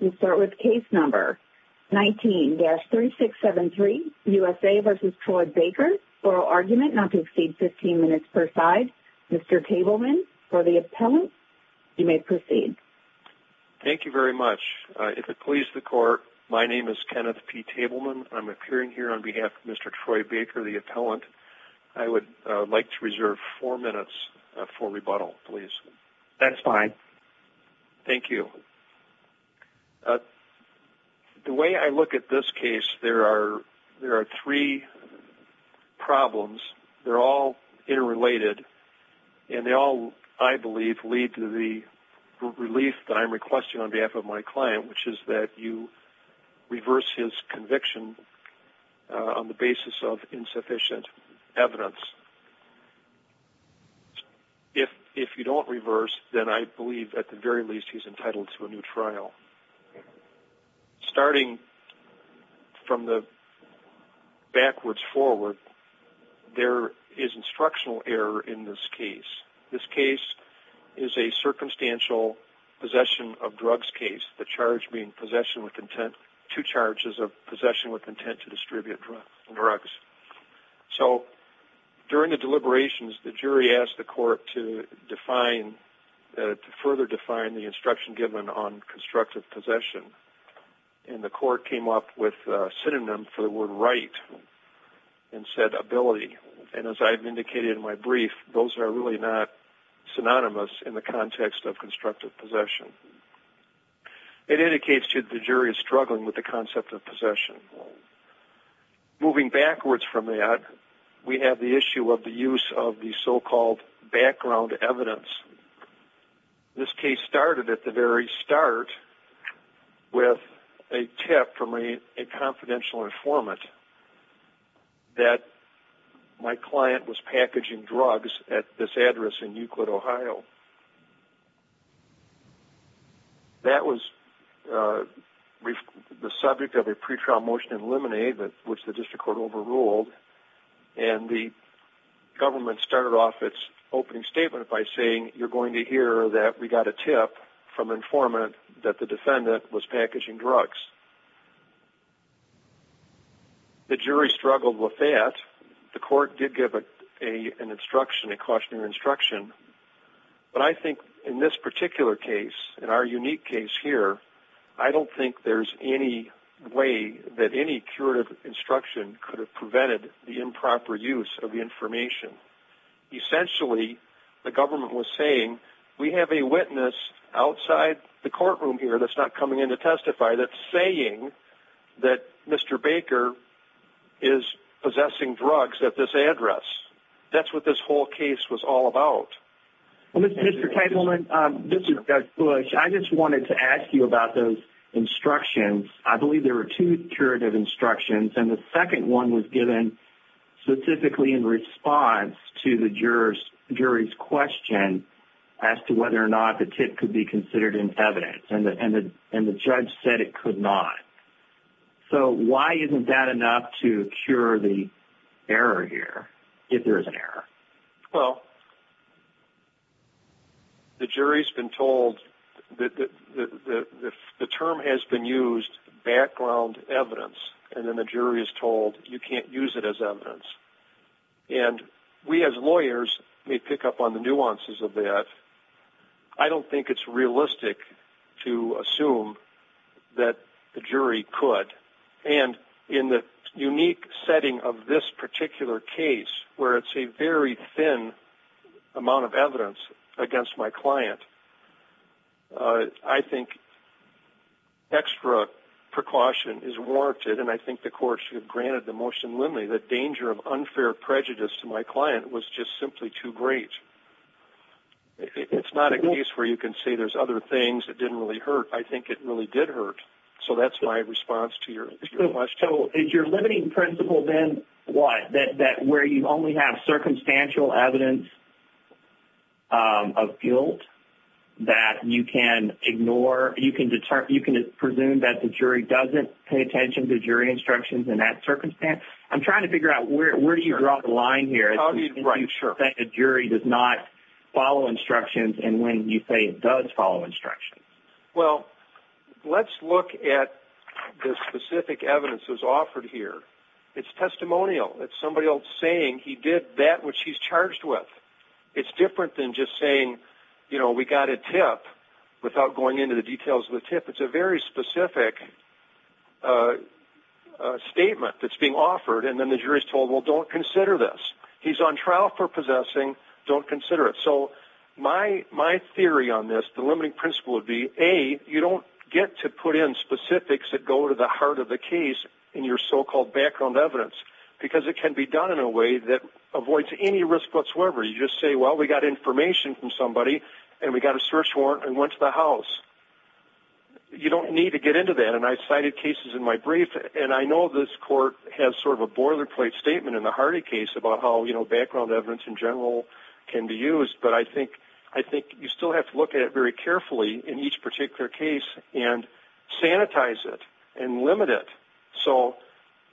We start with case number 19-3673, USA v. Troy Baker, oral argument not to exceed 15 minutes per side. Mr. Tabelman for the appellant, you may proceed. Thank you very much. If it pleases the court, my name is Kenneth P. Tabelman. I'm appearing here on behalf of Mr. Troy Baker, the appellant. I would like to reserve four minutes for rebuttal, please. That's fine. Thank you. The way I look at this case, there are three problems. They're all interrelated, and they all, I believe, lead to the relief that I'm requesting on behalf of my client, which is that you reverse his conviction on the basis of insufficient evidence. If you don't reverse, then I believe, at the very least, he's entitled to a new trial. Starting from the backwards forward, there is instructional error in this case. This case is a circumstantial possession of drugs case. The charge being possession with intent, two charges of possession with intent to distribute drugs. During the deliberations, the jury asked the court to further define the instruction given on constructive possession. And the court came up with a synonym for the word right and said ability. And as I've indicated in my brief, those are really not synonymous in the context of constructive possession. It indicates that the jury is struggling with the concept of possession. Moving backwards from that, we have the issue of the use of the so-called background evidence. This case started at the very start with a tip from a confidential informant that my client was packaging drugs at this address in Euclid, Ohio. That was the subject of a pretrial motion in Lemonade, which the district court overruled. And the government started off its opening statement by saying, you're going to hear that we got a tip from an informant that the defendant was packaging drugs. The jury struggled with that. The court did give an instruction, a cautionary instruction. But I think in this particular case, in our unique case here, I don't think there's any way that any curative instruction could have prevented the improper use of the information. Essentially, the government was saying, we have a witness outside the courtroom here that's not coming in to testify that's saying that Mr. Baker is possessing drugs at this address. That's what this whole case was all about. Mr. Teitelman, this is Doug Bush. I just wanted to ask you about those instructions. I believe there were two curative instructions, and the second one was given specifically in response to the jury's question as to whether or not the tip could be considered in evidence. And the judge said it could not. So why isn't that enough to cure the error here, if there is an error? Well, the jury's been told that the term has been used, background evidence, and then the jury is told you can't use it as evidence. And we as lawyers may pick up on the nuances of that. I don't think it's realistic to assume that the jury could. And in the unique setting of this particular case, where it's a very thin amount of evidence against my client, I think extra precaution is warranted, and I think the court should have granted the motion limly that danger of unfair prejudice to my client was just simply too great. It's not a case where you can say there's other things that didn't really hurt. I think it really did hurt. So that's my response to your question. So is your limiting principle then what? That where you only have circumstantial evidence of guilt that you can ignore? You can presume that the jury doesn't pay attention to jury instructions in that circumstance? I'm trying to figure out where do you draw the line here? How do you know that the jury does not follow instructions, and when you say it does follow instructions? Well, let's look at the specific evidence that was offered here. It's testimonial. It's somebody else saying he did that which he's charged with. It's different than just saying we got a tip without going into the details of the tip. It's a very specific statement that's being offered, and then the jury's told, well, don't consider this. He's on trial for possessing. Don't consider it. So my theory on this, the limiting principle would be, A, you don't get to put in specifics that go to the heart of the case in your so-called background evidence, because it can be done in a way that avoids any risk whatsoever. You just say, well, we got information from somebody, and we got a search warrant and went to the house. You don't need to get into that, and I've cited cases in my brief, and I know this court has sort of a boilerplate statement in the Hardy case about how background evidence in general can be used, but I think you still have to look at it very carefully in each particular case and sanitize it and limit it.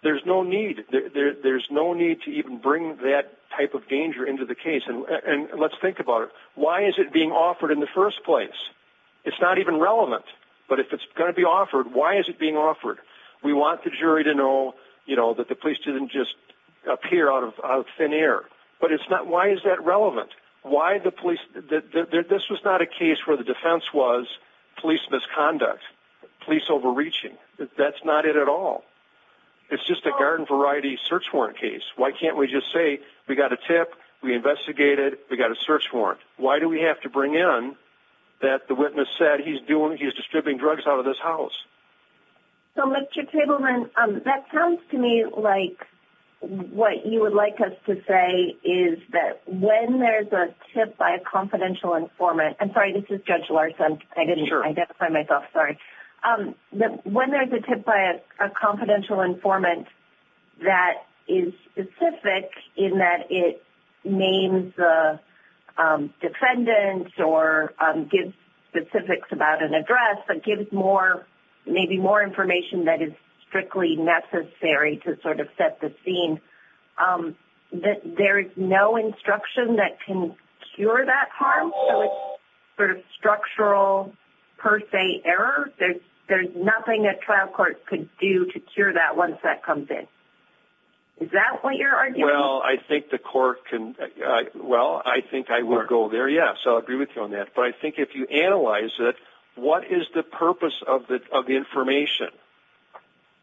There's no need to even bring that type of danger into the case, and let's think about it. Why is it being offered in the first place? It's not even relevant, but if it's going to be offered, why is it being offered? We want the jury to know that the police didn't just appear out of thin air, but why is that relevant? This was not a case where the defense was police misconduct, police overreaching. That's not it at all. It's just a garden-variety search warrant case. Why can't we just say, we got a tip, we investigated, we got a search warrant? Why do we have to bring in that the witness said he's distributing drugs out of this house? So, Mr. Tableman, that sounds to me like what you would like us to say is that when there's a tip by a confidential informant, I'm sorry, this is Judge Larson, I didn't identify myself, sorry. When there's a tip by a confidential informant that is specific in that it names the defendants or gives specifics about an address, but gives maybe more information that is strictly necessary to sort of set the scene, there is no instruction that can cure that harm? So it's sort of structural per se error? There's nothing a trial court could do to cure that once that comes in? Is that what you're arguing? Well, I think I would go there, yes. I'll agree with you on that. But I think if you analyze it, what is the purpose of the information?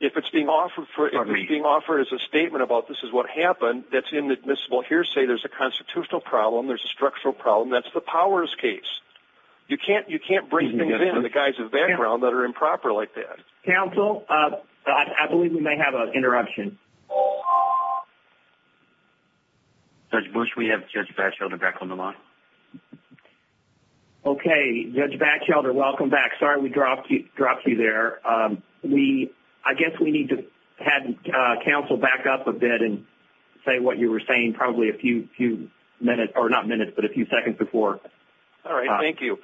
If it's being offered as a statement about this is what happened, that's inadmissible hearsay, there's a constitutional problem, there's a structural problem, that's the powers case. You can't bring things in from the guise of background that are improper like that. Counsel, I believe we may have an interruption. Judge Bush, we have Judge Batchelder back on the line. Okay, Judge Batchelder, welcome back. Sorry we dropped you there. I guess we need to have counsel back up a bit and say what you were saying probably a few minutes, or not minutes, but a few seconds before. All right, thank you.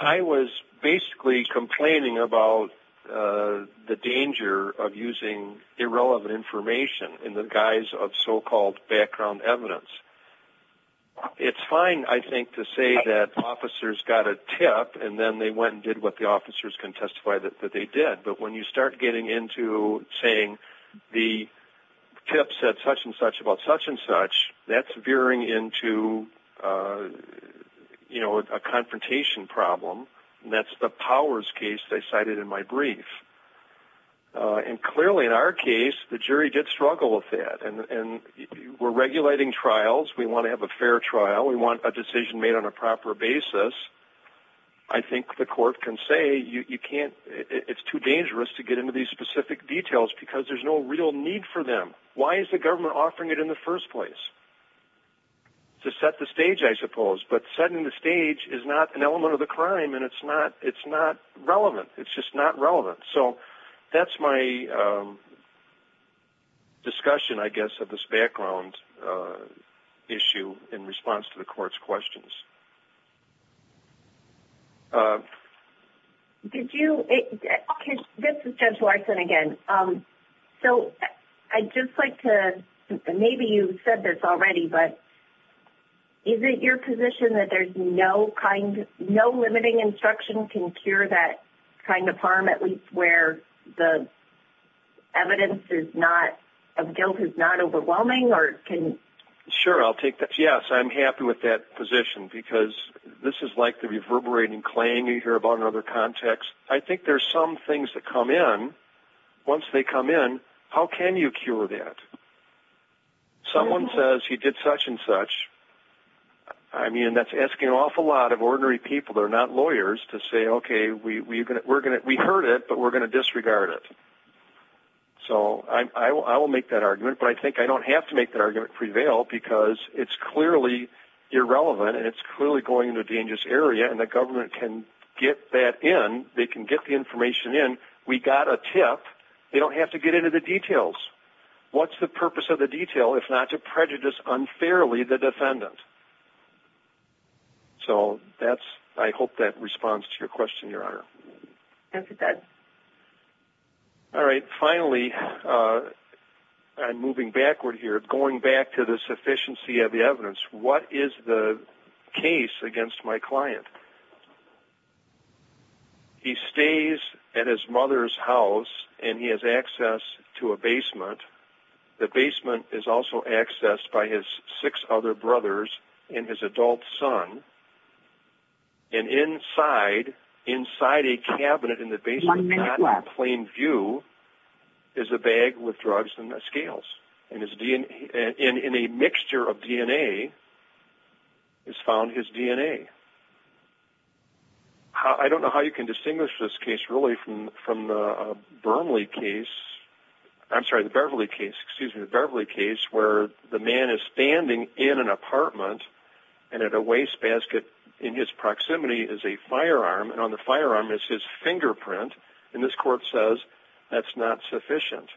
I was basically complaining about the danger of using irrelevant information in the guise of so-called background evidence. It's fine, I think, to say that officers got a tip and then they went and did what the officers can testify that they did. But when you start getting into saying the tip said such and such about such and such, that's veering into a confrontation problem, and that's the powers case they cited in my brief. Clearly, in our case, the jury did struggle with that. We're regulating trials, we want to have a fair trial, we want a decision made on a proper basis. I think the court can say it's too dangerous to get into these specific details because there's no real need for them. Why is the government offering it in the first place? To set the stage, I suppose. But setting the stage is not an element of the crime, and it's not relevant. It's just not relevant. So that's my discussion, I guess, of this background issue in response to the court's questions. This is Judge Larson again. Maybe you've said this already, but is it your position that no limiting instruction can cure that kind of harm, at least where the evidence of guilt is not overwhelming? Sure, I'll take that. Yes, I'm happy with that position because this is like the reverberating clang you hear about in other contexts. I think there's some things that come in. Once they come in, how can you cure that? Someone says he did such and such. That's asking an awful lot of ordinary people that are not lawyers to say, okay, we heard it, but we're going to disregard it. So I will make that argument, but I think I don't have to make that argument prevail because it's clearly irrelevant, and it's clearly going into a dangerous area, and the government can get that in. They can get the information in. We got a tip. They don't have to get into the details. What's the purpose of the detail if not to prejudice unfairly the defendant? So I hope that responds to your question, Your Honor. Thank you, Judge. One minute left. And this court says that's not sufficient.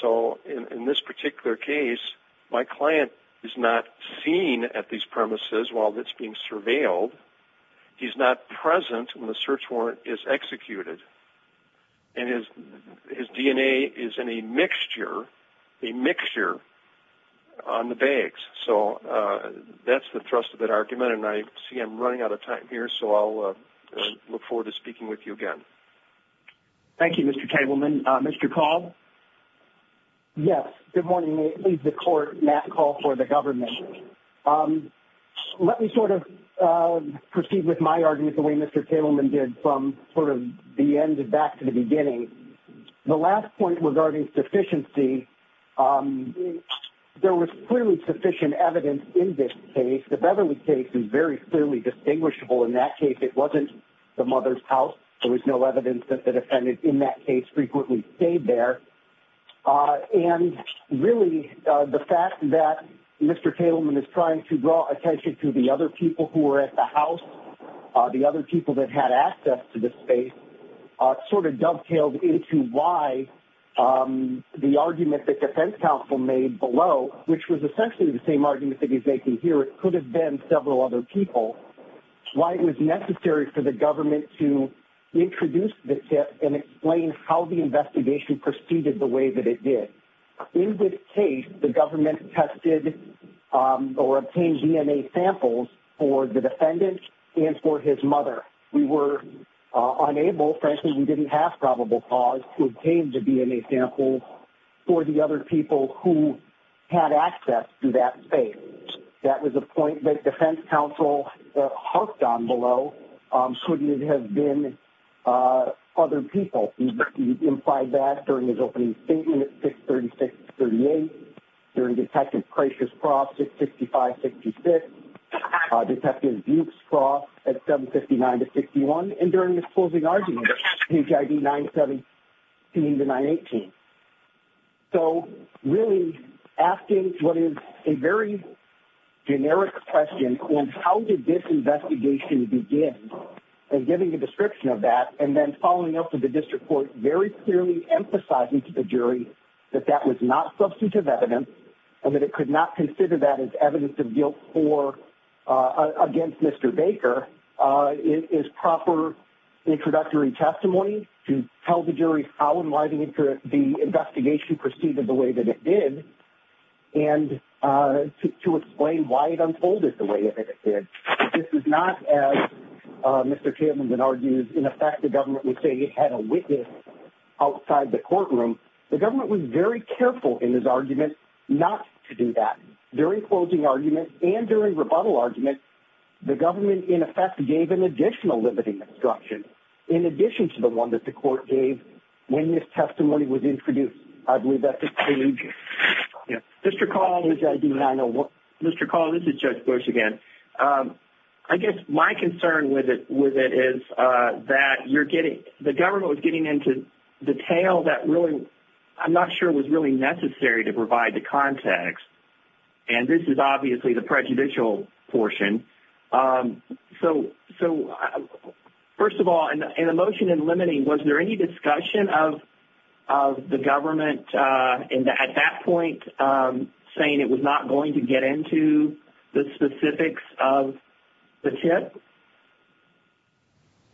So in this particular case, my client is not seen at these premises while it's being surveilled. He's not present when the search warrant is executed, and his DNA is in a mixture on the bags. So that's the thrust of that argument, and I see I'm running out of time here, so I'll look forward to speaking with you again. Thank you, Mr. Tableman. Mr. Cobb? Yes. Good morning. This is the court. Matt Cobb for the government. Let me sort of proceed with my argument the way Mr. Tableman did from sort of the end back to the beginning. The last point regarding sufficiency, there was clearly sufficient evidence in this case. The Beverly case is very clearly distinguishable. In that case, it wasn't the mother's house. There was no evidence that the defendant in that case frequently stayed there. And really, the fact that Mr. Tableman is trying to draw attention to the other people who were at the house, the other people that had access to this space, sort of dovetailed into why the argument that defense counsel made below, which was essentially the same argument that he's making here, it could have been several other people, why it was necessary for the government to introduce the tip and explain how the investigation proceeded the way that it did. In this case, the government tested or obtained DNA samples for the defendant and for his mother. We were unable, frankly we didn't have probable cause, to obtain the DNA samples for the other people who had access to that space. That was a point that defense counsel harked on below. Shouldn't it have been other people? He implied that during his opening statement at 636-38, during Detective Kreischer's cross at 655-66, Detective Buick's cross at 759-61, and during his closing argument at HID 917-918. So, really asking what is a very generic question on how did this investigation begin, and giving a description of that, and then following up with the district court very clearly emphasizing to the jury that that was not substantive evidence, and that it could not consider that as evidence of guilt against Mr. Baker, is proper introductory testimony to tell the jury how and why the investigation proceeded the way that it did, and to explain why it unfolded the way that it did. This is not, as Mr. Chapman had argued, in effect the government would say it had a witness outside the courtroom. The government was very careful in this argument not to do that. During closing argument, and during rebuttal argument, the government in effect gave an additional limiting instruction, in addition to the one that the court gave when this testimony was introduced. I believe that concludes... Mr. Call, this is Judge Bush again. I guess my concern with it is that the government was getting into detail that I'm not sure was really necessary to provide the context, and this is obviously the prejudicial portion. So, first of all, in the motion in limiting, was there any discussion of the government at that point saying it was not going to get into the specifics of the tip?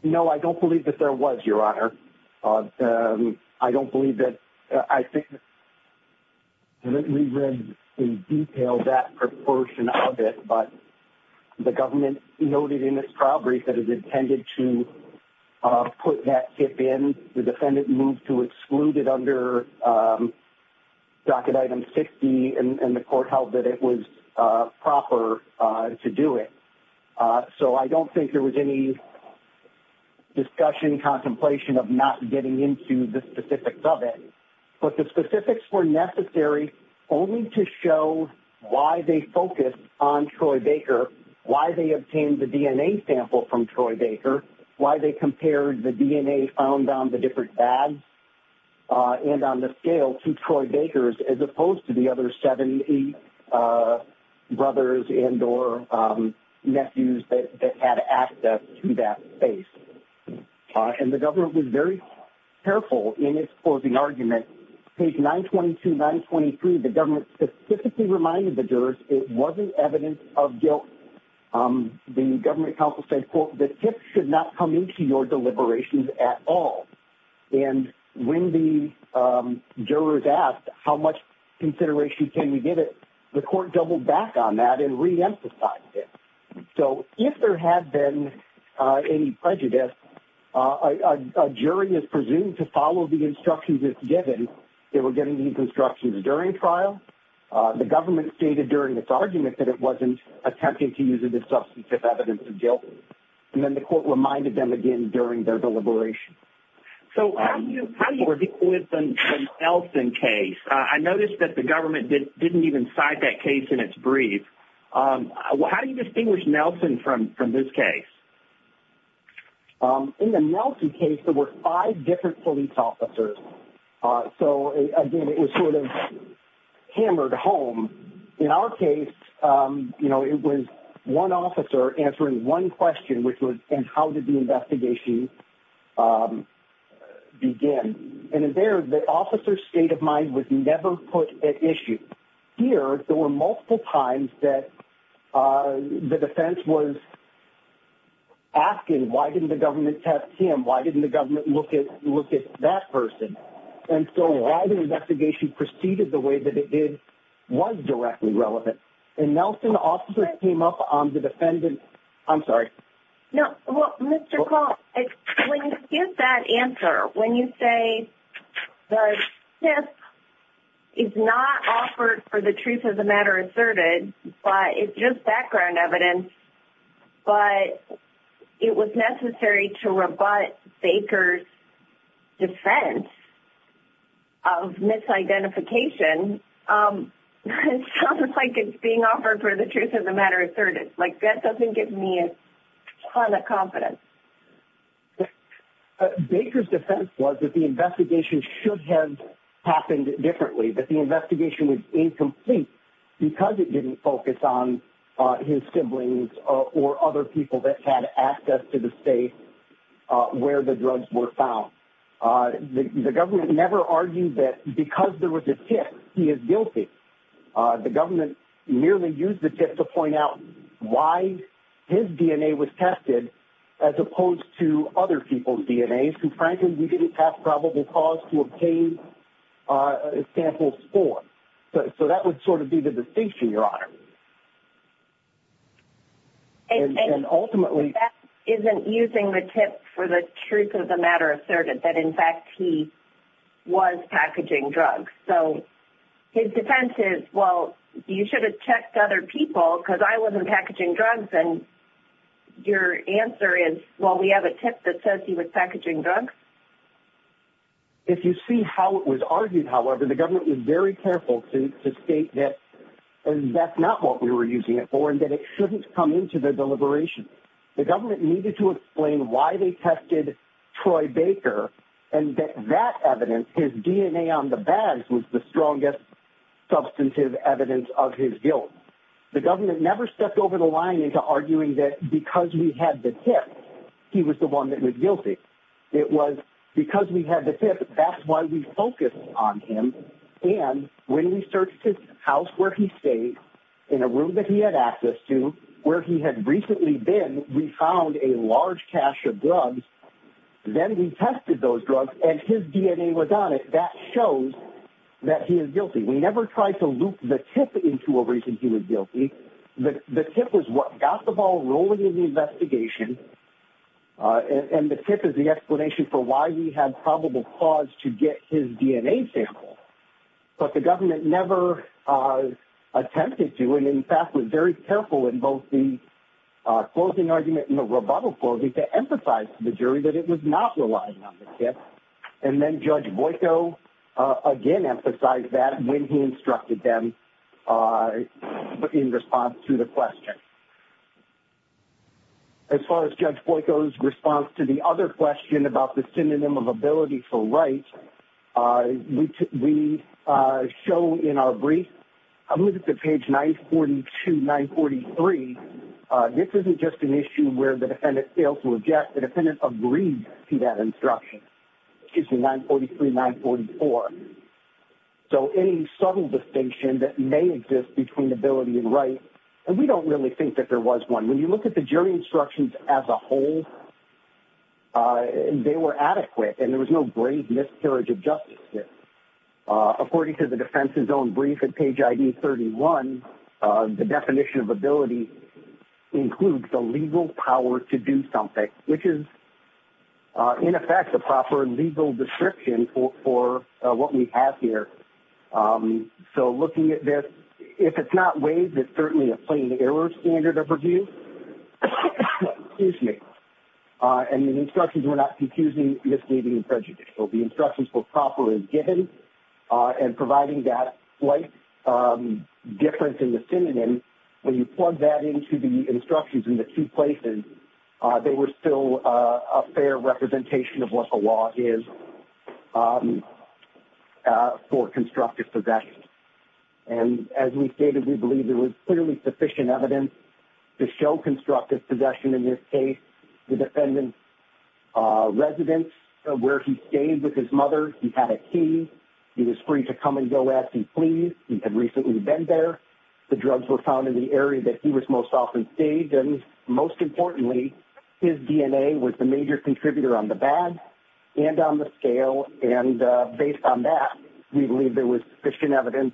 No, I don't believe that there was, Your Honor. I don't believe that... I think we read in detail that proportion of it, but the government noted in its trial brief that it intended to put that tip in. The defendant moved to exclude it under docket item 60, and the court held that it was proper to do it. So, I don't think there was any discussion, contemplation of not getting into the specifics of it, but the specifics were necessary only to show why they focused on Troy Baker, why they obtained the DNA sample from Troy Baker, why they compared the DNA found on the different bags and on the scale to Troy Baker's as opposed to the other 70 brothers and or nephews that had access to that base. And the government was very careful in its closing argument. Page 922, 923, the government specifically reminded the jurors it wasn't evidence of guilt. The government counsel said, quote, the tip should not come into your deliberations at all. And when the jurors asked how much consideration can you give it, the court doubled back on that and reemphasized it. So, if there had been any prejudice, a jury is presumed to follow the instructions it's given. They were getting these instructions during trial. The government stated during its argument that it wasn't attempting to use it as substantive evidence of guilt. And then the court reminded them again during their deliberations. So, how do you equate the Nelson case? I noticed that the government didn't even cite that case in its brief. How do you distinguish Nelson from this case? In the Nelson case, there were five different police officers. So, again, it was sort of hammered home. In our case, you know, it was one officer answering one question, which was, and how did the investigation begin? And there, the officer's state of mind was never put at issue. And here, there were multiple times that the defense was asking, why didn't the government test him? Why didn't the government look at that person? And so, why the investigation proceeded the way that it did was directly relevant. And Nelson officers came up on the defendant. I'm sorry. No, well, Mr. Call, when you give that answer, when you say the SIF is not offered for the truth of the matter asserted, but it's just background evidence, but it was necessary to rebut Baker's defense of misidentification, it sounds like it's being offered for the truth of the matter asserted. Like, that doesn't give me a ton of confidence. Baker's defense was that the investigation should have happened differently, that the investigation was incomplete because it didn't focus on his siblings or other people that had access to the state where the drugs were found. The government never argued that because there was a tip, he is guilty. The government merely used the tip to point out why his DNA was tested as opposed to other people's DNAs. And frankly, we didn't have probable cause to obtain a sample score. So, that would sort of be the distinction, Your Honor. And ultimately... The defense isn't using the tip for the truth of the matter asserted, that in fact, he was packaging drugs. So, his defense is, well, you should have checked other people because I wasn't packaging drugs. And your answer is, well, we have a tip that says he was packaging drugs? If you see how it was argued, however, the government was very careful to state that that's not what we were using it for and that it shouldn't come into the deliberation. The government needed to explain why they tested Troy Baker and that that evidence, his DNA on the bags, was the strongest substantive evidence of his guilt. The government never stepped over the line into arguing that because we had the tip, he was the one that was guilty. It was because we had the tip, that's why we focused on him. And when we searched his house where he stayed, in a room that he had access to, where he had recently been, we found a large cache of drugs. Then we tested those drugs and his DNA was on it. That shows that he is guilty. We never tried to loop the tip into a reason he was guilty. The tip is what got the ball rolling in the investigation and the tip is the explanation for why we had probable cause to get his DNA sample. But the government never attempted to, and in fact, was very careful in both the closing argument and the rebuttal closing, to emphasize to the jury that it was not reliant on the tip. And then Judge Boyko again emphasized that when he instructed them in response to the question. As far as Judge Boyko's response to the other question about the synonym of ability for right, we show in our brief, I believe it's at page 942-943, this isn't just an issue where the defendant fails to object. The defendant agreed to that instruction. Excuse me, 943-944. So any subtle distinction that may exist between ability and right, and we don't really think that there was one. When you look at the jury instructions as a whole, they were adequate and there was no grave miscarriage of justice here. According to the defense's own brief at page ID 31, the definition of ability includes the legal power to do something, which is, in effect, the proper legal description for what we have here. So looking at this, if it's not waived, it's certainly a plain error standard of review. Excuse me. And the instructions were not confusing, misleading, and prejudicial. The instructions were proper as given, and providing that slight difference in the synonym, when you plug that into the instructions in the two places, they were still a fair representation of what the law is for constructive possession. And as we stated, we believe there was clearly sufficient evidence to show constructive possession in this case. The defendant's residence, where he stayed with his mother, he had a key. He was free to come and go as he pleased. He had recently been there. The drugs were found in the area that he was most often stayed. And most importantly, his DNA was the major contributor on the badge and on the scale. And based on that, we believe there was sufficient evidence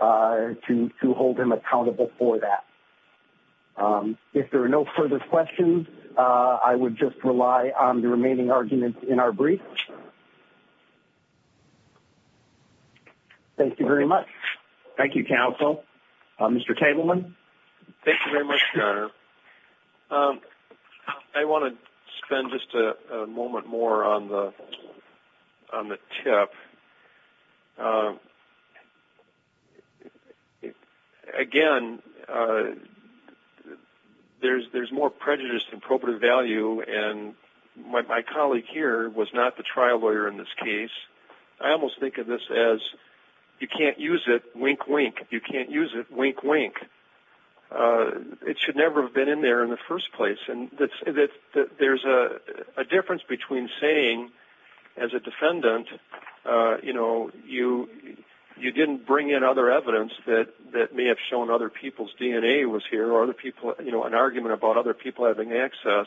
to hold him accountable for that. If there are no further questions, I would just rely on the remaining arguments in our brief. Thank you very much. Thank you, counsel. Mr. Tabelman. Thank you very much, Governor. I want to spend just a moment more on the tip. Again, there's more prejudice than probative value. And my colleague here was not the trial lawyer in this case. I almost think of this as, you can't use it, wink, wink. You can't use it, wink, wink. It should never have been in there in the first place. There's a difference between saying, as a defendant, you didn't bring in other evidence that may have shown other people's DNA was here, or an argument about other people having access.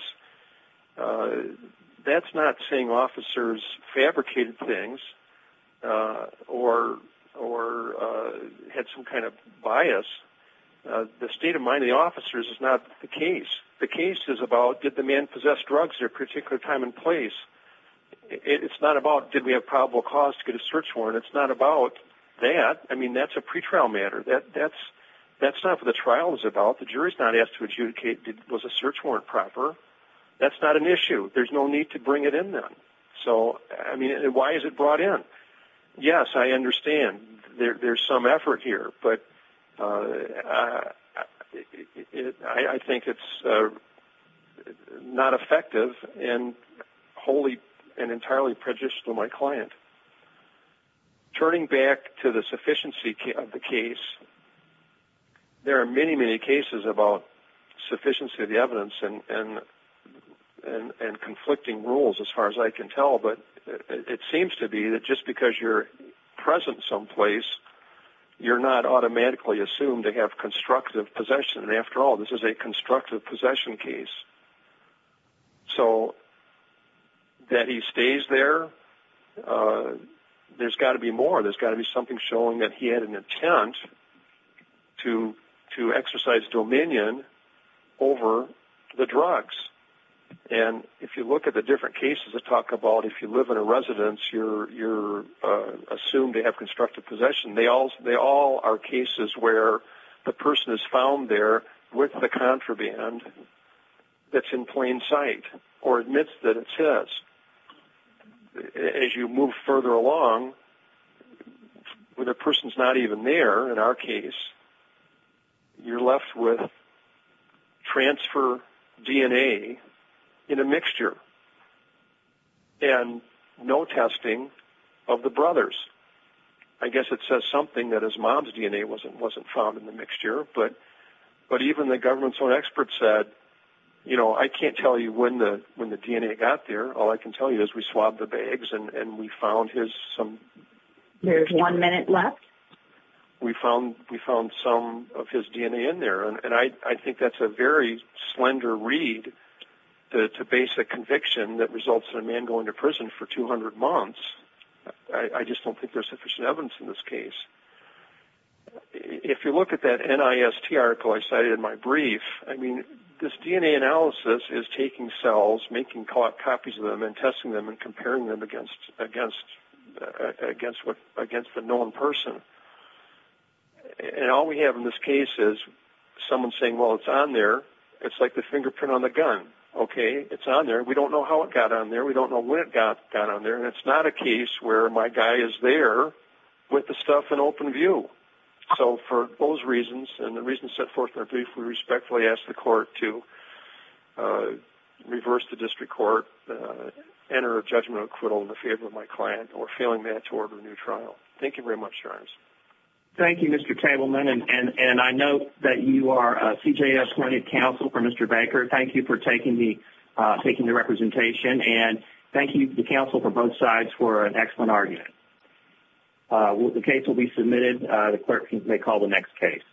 That's not saying officers fabricated things or had some kind of bias. The state of mind of the officers is not the case. The case is about, did the man possess drugs at a particular time and place? It's not about, did we have probable cause to get a search warrant? It's not about that. I mean, that's a pretrial matter. That's not what the trial is about. The jury's not asked to adjudicate, was the search warrant proper? That's not an issue. There's no need to bring it in then. So, I mean, why is it brought in? Yes, I understand. There's some effort here. But I think it's not effective and wholly and entirely prejudicial to my client. Turning back to the sufficiency of the case, there are many, many cases about sufficiency of the evidence and conflicting rules, as far as I can tell. But it seems to be that just because you're present someplace, you're not automatically assumed to have constructive possession. After all, this is a constructive possession case. So, that he stays there, there's got to be more. There's got to be something showing that he had an intent to exercise dominion over the drugs. And if you look at the different cases that talk about if you live in a residence, you're assumed to have constructive possession. They all are cases where the person is found there with the contraband that's in plain sight or admits that it says. As you move further along, when a person's not even there, in our case, you're left with transfer DNA in a mixture. And no testing of the brothers. I guess it says something that his mom's DNA wasn't found in the mixture. But even the government's own expert said, you know, I can't tell you when the DNA got there. All I can tell you is we swabbed the bags and we found his... There's one minute left. We found some of his DNA in there. And I think that's a very slender read to base a conviction that results in a man going to prison for 200 months. I just don't think there's sufficient evidence in this case. If you look at that NIST article I cited in my brief, I mean, this DNA analysis is taking cells, making copies of them, and testing them and comparing them against the known person. And all we have in this case is someone saying, well, it's on there. It's like the fingerprint on the gun. Okay, it's on there. We don't know how it got on there. We don't know when it got on there. And it's not a case where my guy is there with the stuff in open view. So for those reasons, and the reasons set forth in our brief, we respectfully ask the court to reverse the district court, enter a judgment of acquittal in favor of my client, or failing that to order a new trial. Thank you very much, Charms. Thank you, Mr. Tabelman. And I know that you are a CJS-appointed counsel for Mr. Baker. Thank you for taking the representation. And thank you to the counsel for both sides for an excellent argument. The case will be submitted. The clerk may call the next case.